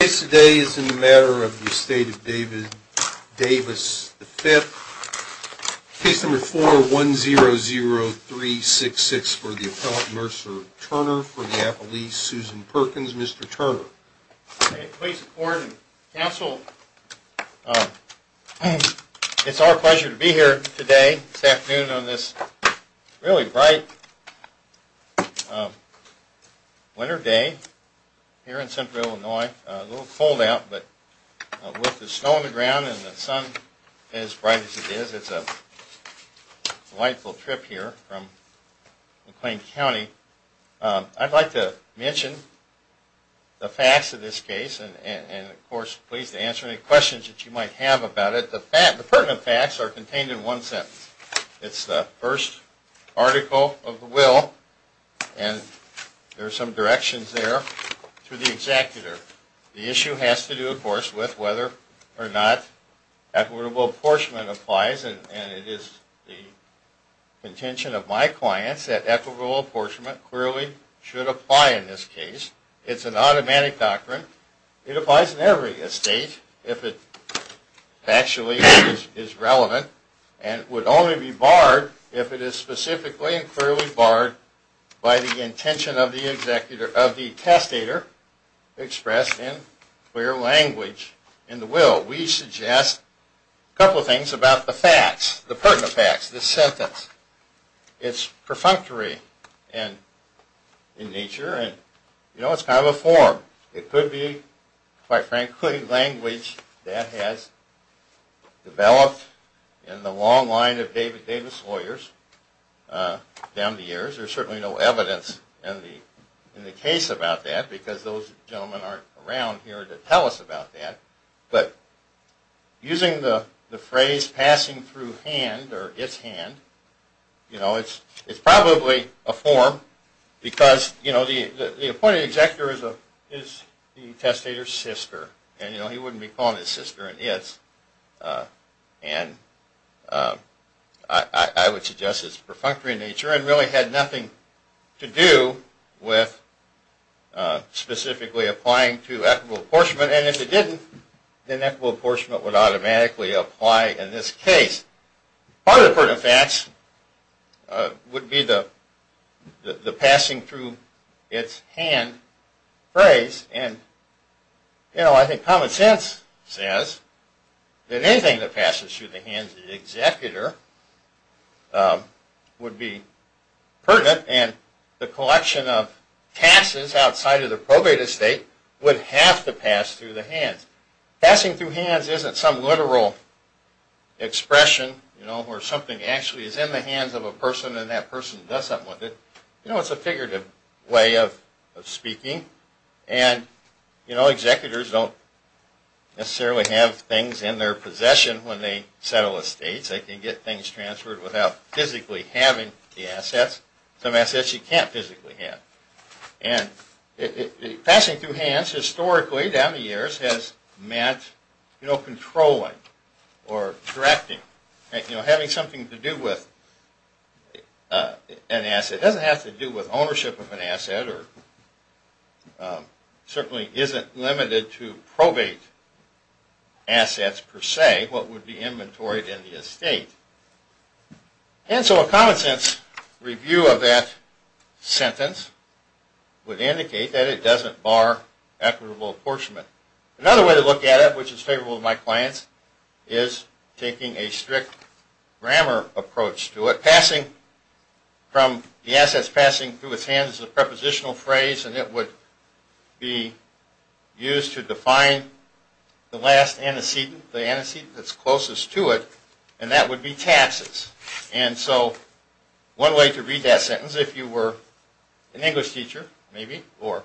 The case today is in the matter of the Estate of David Davis V, case number 4100366 for the appellant, Mercer Turner, for the appellee, Susan Perkins. Mr. Turner. Okay, please report. Counsel, it's our pleasure to be here today, this afternoon on this really winter day here in central Illinois. A little cold out, but with the snow on the ground and the sun as bright as it is, it's a delightful trip here from McLean County. I'd like to mention the facts of this case, and of course, please answer any questions that you might have about it. The pertinent facts are contained in one sentence. It's the first article of the will, and there are some directions there, to the executor. The issue has to do, of course, with whether or not equitable apportionment applies, and it is the intention of my clients that equitable apportionment clearly should apply in this case. It's an automatic doctrine. It applies in every estate, if it actually is relevant, and it would only be barred if it is specifically and clearly barred by the intention of the testator expressed in clear language in the will. We suggest a couple of things about the facts, the pertinent facts, the sentence. It's perfunctory in nature, and you know, it's kind of a form. It could be, quite frankly, language that has developed in the long line of Davis lawyers down the years. There's certainly no evidence in the case about that, because those gentlemen aren't around here to tell us about that, but using the phrase, passing through hand, or its hand, you know, it's probably a form, because, you know, the appointed executor is the testator's sister, and you know, he wouldn't be calling his sister an it's, and I would suggest it's perfunctory in nature, and really had nothing to do with specifically applying to equitable apportionment would automatically apply in this case. Part of the pertinent facts would be the passing through its hand phrase, and you know, I think common sense says that anything that passes through the hands of the executor would be pertinent, and the collection of taxes outside of the hands isn't some literal expression, you know, where something actually is in the hands of a person, and that person does something with it. You know, it's a figurative way of speaking, and you know, executors don't necessarily have things in their possession when they settle estates. They can get things you know, controlling, or directing, you know, having something to do with an asset. It doesn't have to do with ownership of an asset, or certainly isn't limited to probate assets per se, what would be inventoried in the estate. And so a common sense review of that sentence would indicate that it doesn't bar equitable apportionment. Another way to look at it, which is favorable to my clients, is taking a strict grammar approach to it. Passing from the assets passing through its hands is a prepositional phrase, and it would be used to define the last antecedent, the antecedent that's closest to it, and that would be that sentence if you were an English teacher, maybe, or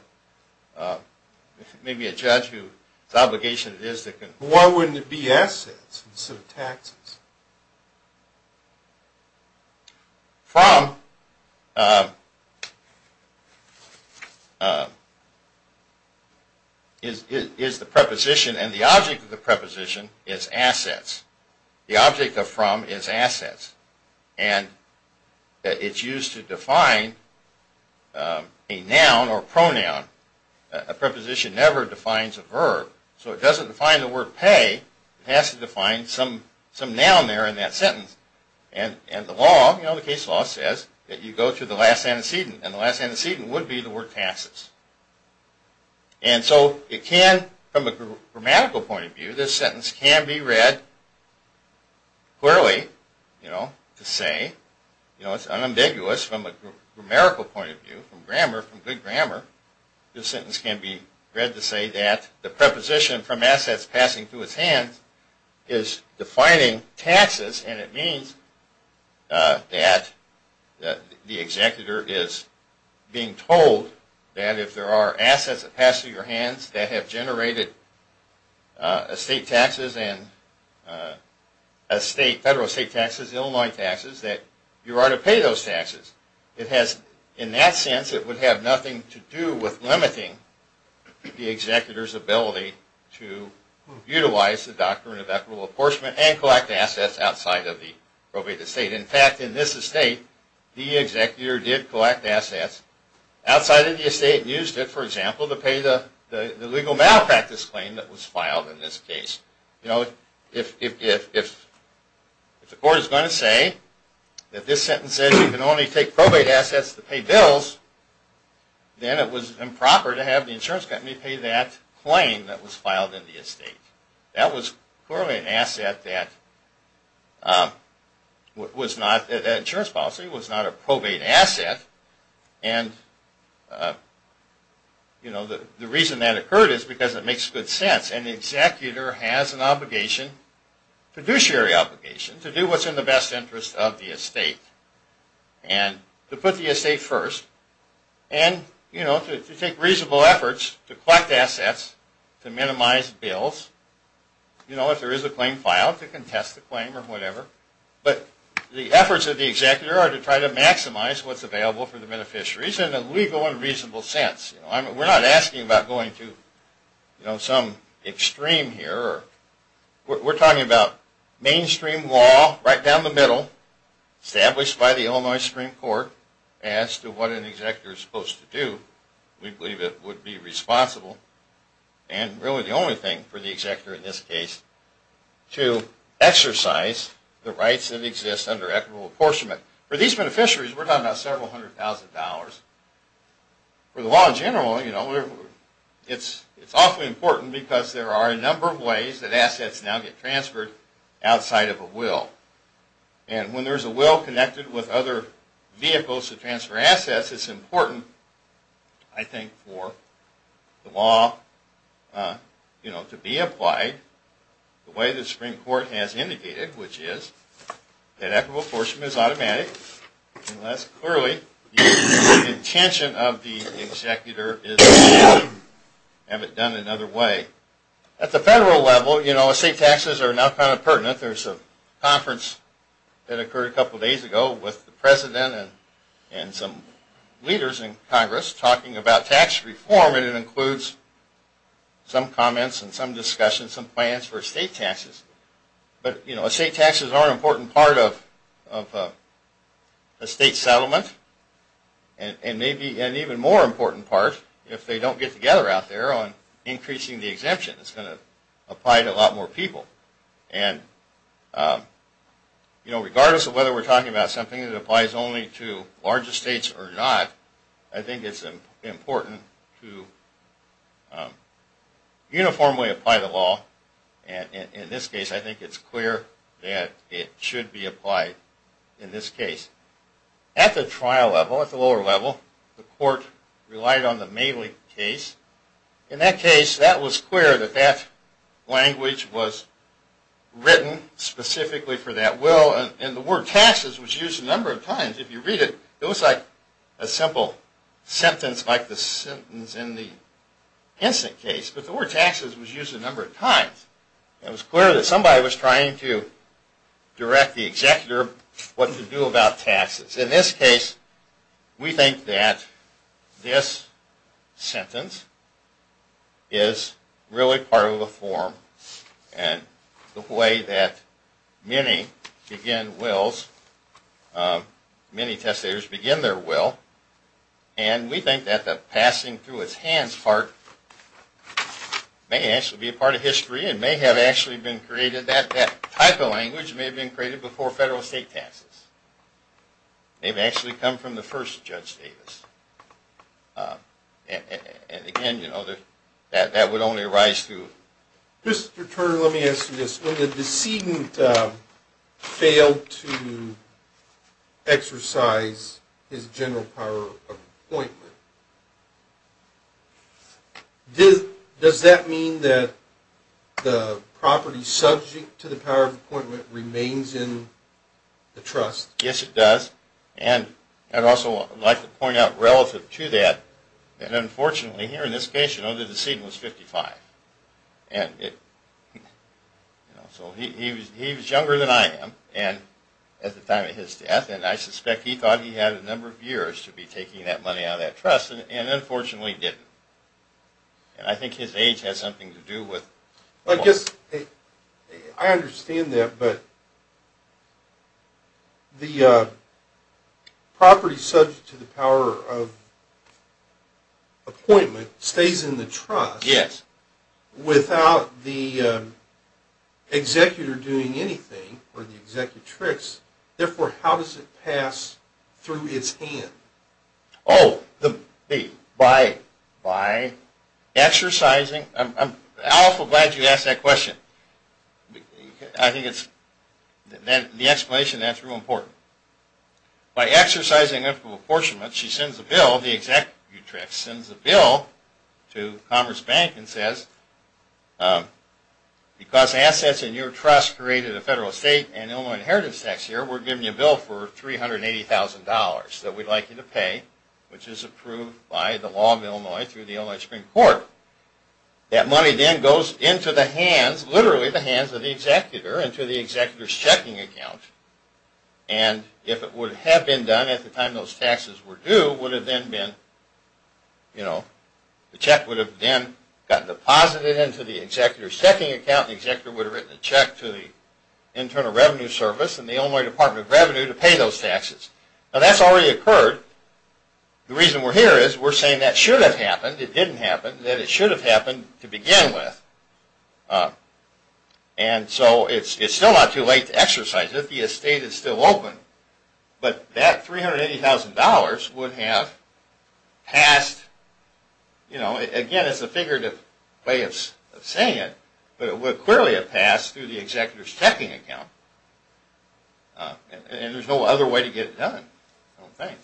maybe a judge whose obligation it is to... Why wouldn't it be assets instead of taxes? From is the preposition, and the object of the preposition is assets. The object of from is assets, and it's used to define a noun or pronoun. A preposition never defines a verb. So it doesn't define the word pay, it has to define some noun there in that sentence. And the law, you know, the case law says that you go to the last antecedent, and the last antecedent would be the word taxes. And so it can, from a grammatical point of view, this sentence can be read clearly, you know, to say, you know, it's unambiguous from a preposition from assets passing through its hands is defining taxes, and it means that the executor is being told that if there are assets that pass through your hands that have generated estate taxes and federal estate taxes, Illinois taxes, that you are to pay those taxes. It has, in that sense, it would have nothing to do with limiting the executor's ability to utilize the Doctrine of Equitable Act, this claim that was filed in this case. You know, if the court is going to say that this sentence says you can only take probate assets to pay bills, then it was improper to have the insurance company pay that claim that was filed in the estate. That was clearly an asset that was not, that insurance policy was not a probate asset. And, you know, the reason that makes good sense. An executor has an obligation, fiduciary obligation, to do what's in the best interest of the estate, and to put the estate first, and, you know, to take reasonable efforts to collect assets, to minimize bills, you know, if there is a claim filed, to contest the claim or whatever, but the efforts of the executor are to try to maximize what's available for the beneficiaries in a legal and reasonable sense. You know, we're not asking about going to, you know, some extreme here. We're talking about mainstream law, right down the middle, established by the Illinois Supreme Court, as to what an executor is supposed to do. We believe it would be responsible, and really the only thing for the executor in this case, to exercise the rights that exist under equitable apportionment. For these beneficiaries, we're talking about several hundred thousand dollars. For the law in general, you know, it's awfully important, because there are a number of ways that assets now get transferred outside of a will. And when there's a will connected with other vehicles to transfer assets, it's important, I think, for the law, you know, to be applied the way the Supreme Court has indicated, which is that equitable apportionment is automatic, unless clearly you intend to transfer assets outside of a will. The intention of the executor is to have it done another way. At the federal level, you know, estate taxes are now kind of pertinent. There's a conference that occurred a couple days ago with the President and some leaders in Congress talking about tax reform, and it includes some comments and some discussions, some plans for estate taxes. But, you know, estate taxes are an important part of a state settlement, and maybe an even more important part, if they don't get together out there, on increasing the exemption. It's going to apply to a lot more people. And, you know, regardless of whether we're talking about something that applies only to larger states or not, I think it's important to uniformly apply the law. And in this case, I think it's clear that it should be applied in this case. At the trial level, at the lower level, the court relied on the Maley case. In that case, that was clear that that language was written specifically for that will, and the word taxes was used a number of times. If you read it, it was like a simple sentence like the sentence in the Henson case, but the word taxes was used a number of times. It was clear that somebody was trying to direct the executor what to do about taxes. In this case, we think that this sentence is really part of the form and the way that many begin wills, many testators begin their will, and we think that the passing through his hands part may actually be a part of history and may be a part of history. It may have actually been created, that type of language may have been created before federal state taxes. It may have actually come from the first Judge Davis. And again, you know, that would only arise through... Mr. Turner, let me ask you this. When the decedent failed to exercise his general power of appointment, does that mean that the property subject to the power of appointment remains in the trust? Yes, it does. And I'd also like to point out relative to that, that unfortunately here in this case, you know, the decedent was 55. So he was younger than I am at the time of his death, and I suspect he thought he had a number of years to be taking that money out of that trust and unfortunately didn't. And I think his age has something to do with... I guess I understand that, but the property subject to the power of appointment stays in the trust without the executor doing anything or the executrix. Therefore, how does it pass through his hand? Oh, by exercising... I'm awful glad you asked that question. I think it's the explanation that's real important. By exercising the power of apportionment, she sends a bill, the executrix sends a bill to Commerce Bank and says, because assets in your trust created a federal state and Illinois inheritance tax here, we're giving you a bill for $380,000 that we'd like you to pay. Which is approved by the law of Illinois through the Illinois Supreme Court. That money then goes into the hands, literally the hands of the executor, into the executor's checking account. And if it would have been done at the time those taxes were due, would have then been, you know, the check would have then gotten deposited into the executor's checking account, the executor would have written a check to the Internal Revenue Service and the Illinois Department of Revenue to pay those taxes. Now that's already occurred. The reason we're here is we're saying that should have happened, it didn't happen, that it should have happened to begin with. And so it's still not too late to exercise it. The estate is still open. But that $380,000 would have passed, you know, again it's a figurative way of saying it, but it would clearly have passed through the executor's checking account. And there's no other way to get it done, I don't think.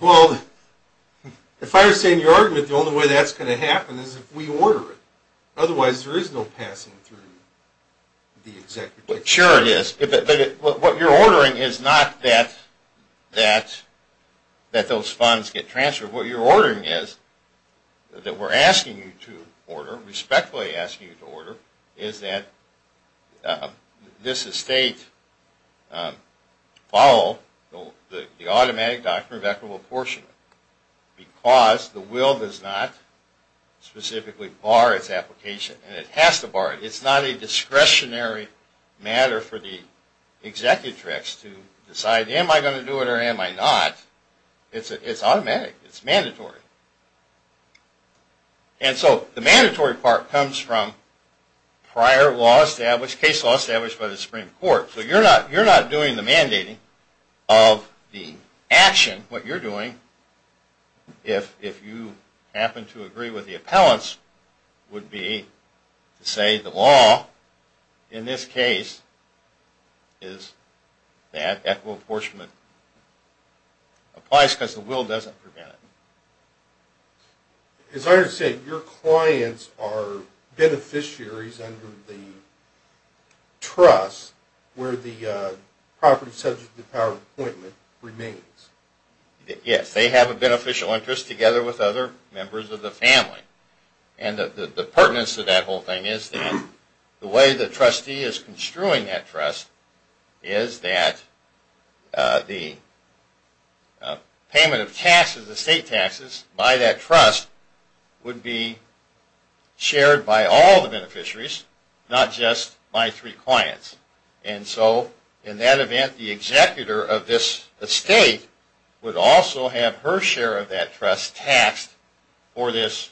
Well, if I were to say in your argument the only way that's going to happen is if we order it. Otherwise there is no passing through the executor. Because the will does not specifically bar its application, and it has to bar it. It's not a discretionary matter for the executrix to decide, am I going to do it or am I not? It's automatic, it's mandatory. And so the mandatory part comes from prior law established, case law established by the Supreme Court. So you're not doing the mandating of the action, what you're doing, if you happen to agree with the appellants, would be to say the law in this case is that equitable apportionment applies because the will doesn't prevent it. As I understand it, your clients are beneficiaries under the trust where the property subject to the power of appointment remains. Yes, they have a beneficial interest together with other members of the family. And the pertinence of that whole thing is that the way the trustee is construing that trust is that the payment of taxes, estate taxes, by that trust would be shared by all the beneficiaries, not just by three clients. And so in that event, the executor of this estate would also have her share of that trust taxed for this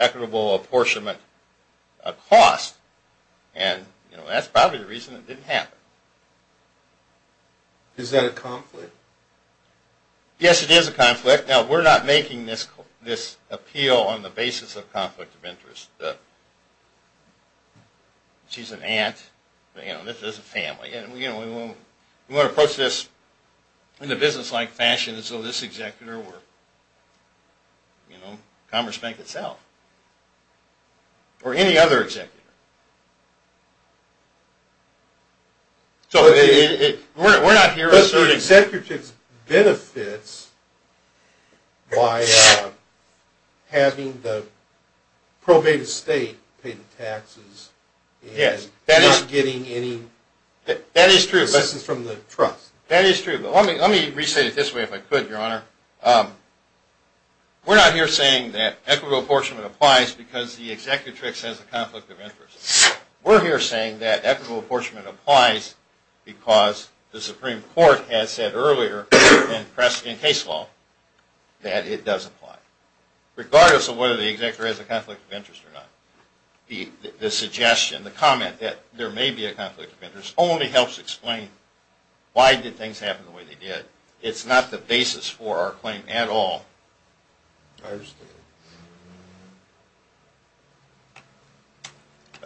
equitable apportionment cost. And that's probably the reason it didn't happen. Is that a conflict? Yes, it is a conflict. Now, we're not making this appeal on the basis of conflict of interest. She's an aunt, this is a family, and we want to approach this in a business-like fashion so this executor or Commerce Bank itself or any other executor The executor benefits by having the probated estate pay the taxes and not getting any lessons from the trust. That is true. But let me re-say it this way, if I could, Your Honor. We're not here saying that equitable apportionment applies because the executrix has a conflict of interest. We're here saying that equitable apportionment applies because the Supreme Court has said earlier in case law that it does apply, regardless of whether the executor has a conflict of interest or not. The suggestion, the comment that there may be a conflict of interest only helps explain why did things happen the way they did. It's not the basis for our claim at all. I understand.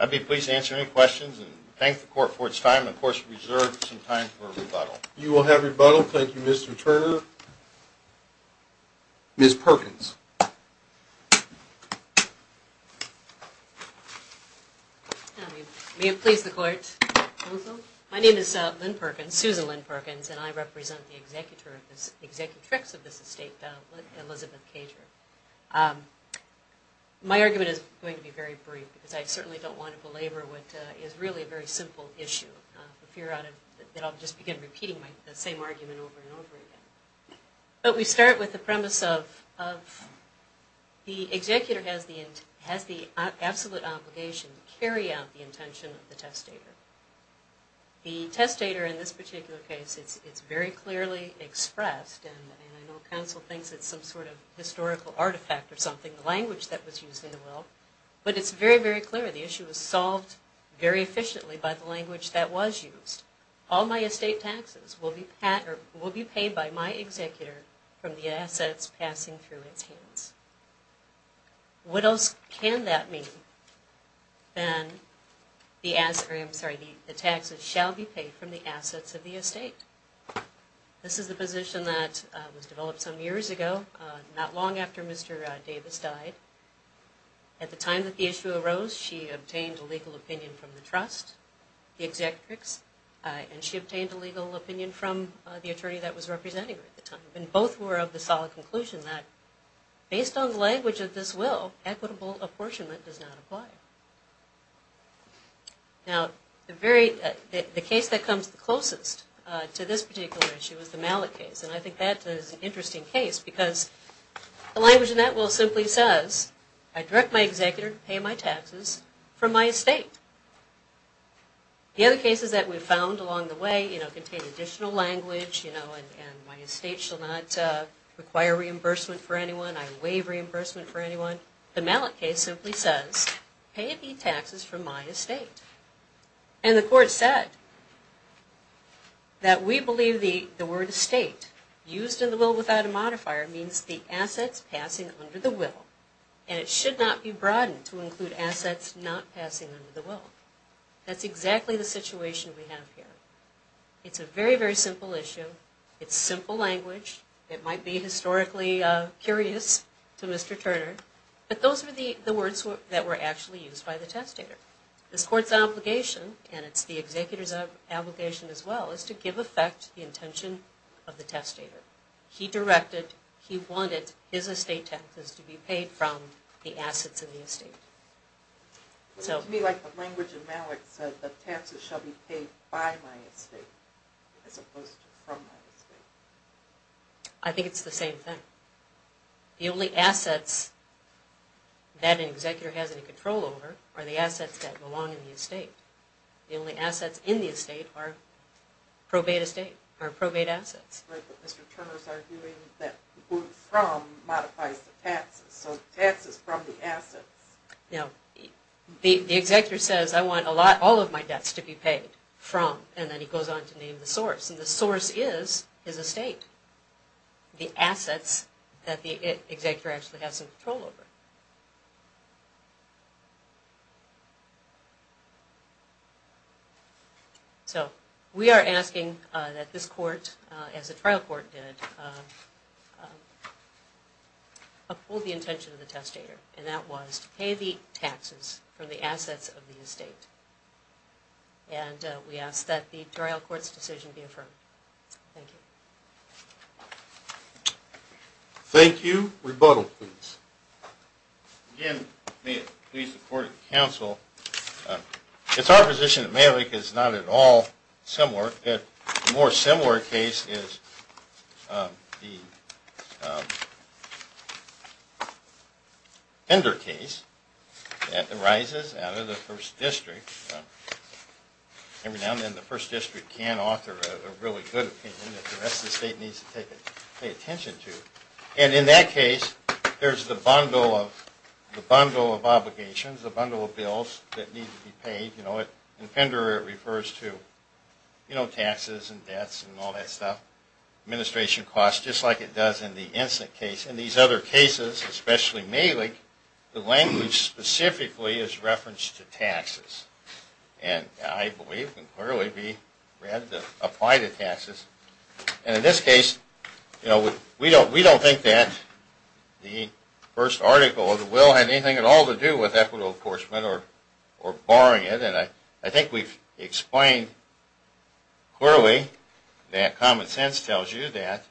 I'd be pleased to answer any questions and thank the Court for its time. Of course, we reserve some time for rebuttal. You will have rebuttal. Thank you, Mr. Turner. Ms. Perkins. May it please the Court. My name is Lynn Perkins, Susan Lynn Perkins, and I represent the executrix of this estate, Elizabeth Cager. My argument is going to be very brief because I certainly don't want to belabor what is really a very simple issue. I fear that I'll just begin repeating the same argument over and over again. We start with the premise of the executor has the absolute obligation to carry out the intention of the testator. The testator in this particular case, it's very clearly expressed, and I know counsel thinks it's some sort of historical artifact or something, the language that was used in the will, but it's very, very clear the issue was solved very efficiently by the language that was used. All my estate taxes will be paid by my executor from the assets passing through its hands. What else can that mean than the taxes shall be paid from the assets of the estate? This is the position that was developed some years ago, not long after Mr. Davis died. At the time that the issue arose, she obtained a legal opinion from the trust, the executrix, and she obtained a legal opinion from the attorney that was representing her at the time, and both were of the solid conclusion that based on the language of this will, equitable apportionment does not apply. Now, the case that comes closest to this particular issue is the Mallet case, and I think that is an interesting case because the language in that will simply says, I direct my executor to pay my taxes from my estate. The other cases that we've found along the way contain additional language, and my estate shall not require reimbursement for anyone, I waive reimbursement for anyone. So, the Mallet case simply says, pay the taxes from my estate. And the court said that we believe the word estate used in the will without a modifier means the assets passing under the will, and it should not be broadened to include assets not passing under the will. That's exactly the situation we have here. It's a very, very simple issue, it's simple language, it might be historically curious to Mr. Turner, but those were the words that were actually used by the testator. This court's obligation, and it's the executor's obligation as well, is to give effect to the intention of the testator. He directed, he wanted his estate taxes to be paid from the assets of the estate. To me, like the language in Mallet said, the taxes shall be paid by my estate, as opposed to from my estate. I think it's the same thing. The only assets that an executor has any control over are the assets that belong in the estate. The only assets in the estate are probate estate, or probate assets. Right, but Mr. Turner's arguing that the word from modifies the taxes, so taxes from the assets. Now, the executor says, I want all of my debts to be paid from, and then he goes on to name the source. And the source is his estate, the assets that the executor actually has some control over. So, we are asking that this court, as the trial court did, uphold the intention of the testator, and that was to pay the taxes from the assets of the estate. And we ask that the trial court's decision be affirmed. Thank you. Thank you. Rebuttal, please. Again, may it please the court and counsel, it's our position that Mallet is not at all similar. A more similar case is the Fender case that arises out of the First District. Every now and then the First District can author a really good opinion that the rest of the state needs to pay attention to. And in that case, there's the bundle of obligations, the bundle of bills that need to be paid. In Fender, it refers to taxes and debts and all that stuff, administration costs, just like it does in the Ensign case. In these other cases, especially Malik, the language specifically is referenced to taxes. And I believe it can clearly be read to apply to taxes. And in this case, we don't think that the first article of the will had anything at all to do with equitable enforcement or barring it. And I think we've explained clearly that common sense tells you that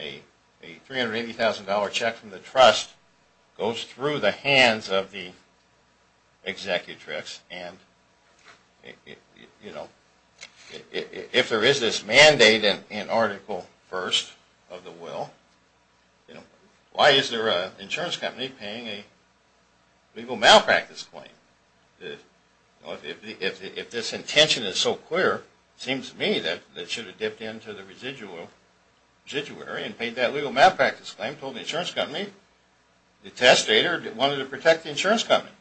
a $380,000 check from the trust goes through the hands of the executive. And if there is this mandate in Article I of the will, why is there an insurance company paying a legal malpractice claim? If this intention is so clear, it seems to me that it should have dipped into the residual and paid that legal malpractice claim and told the insurance company the testator wanted to protect the insurance company,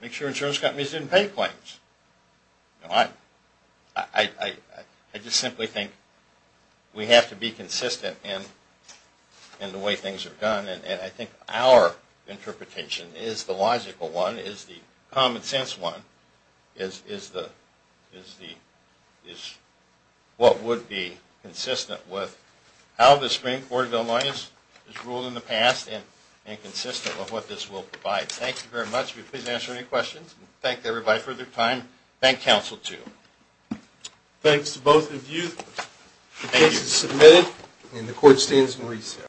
make sure insurance companies didn't pay claims. I just simply think we have to be consistent in the way things are done. And I think our interpretation is the logical one, is the common sense one, is what would be consistent with how the Supreme Court of Illinois has ruled in the past and consistent with what this will provide. Thank you very much. We'd be pleased to answer any questions. Thank you, everybody, for your time. Thank counsel, too.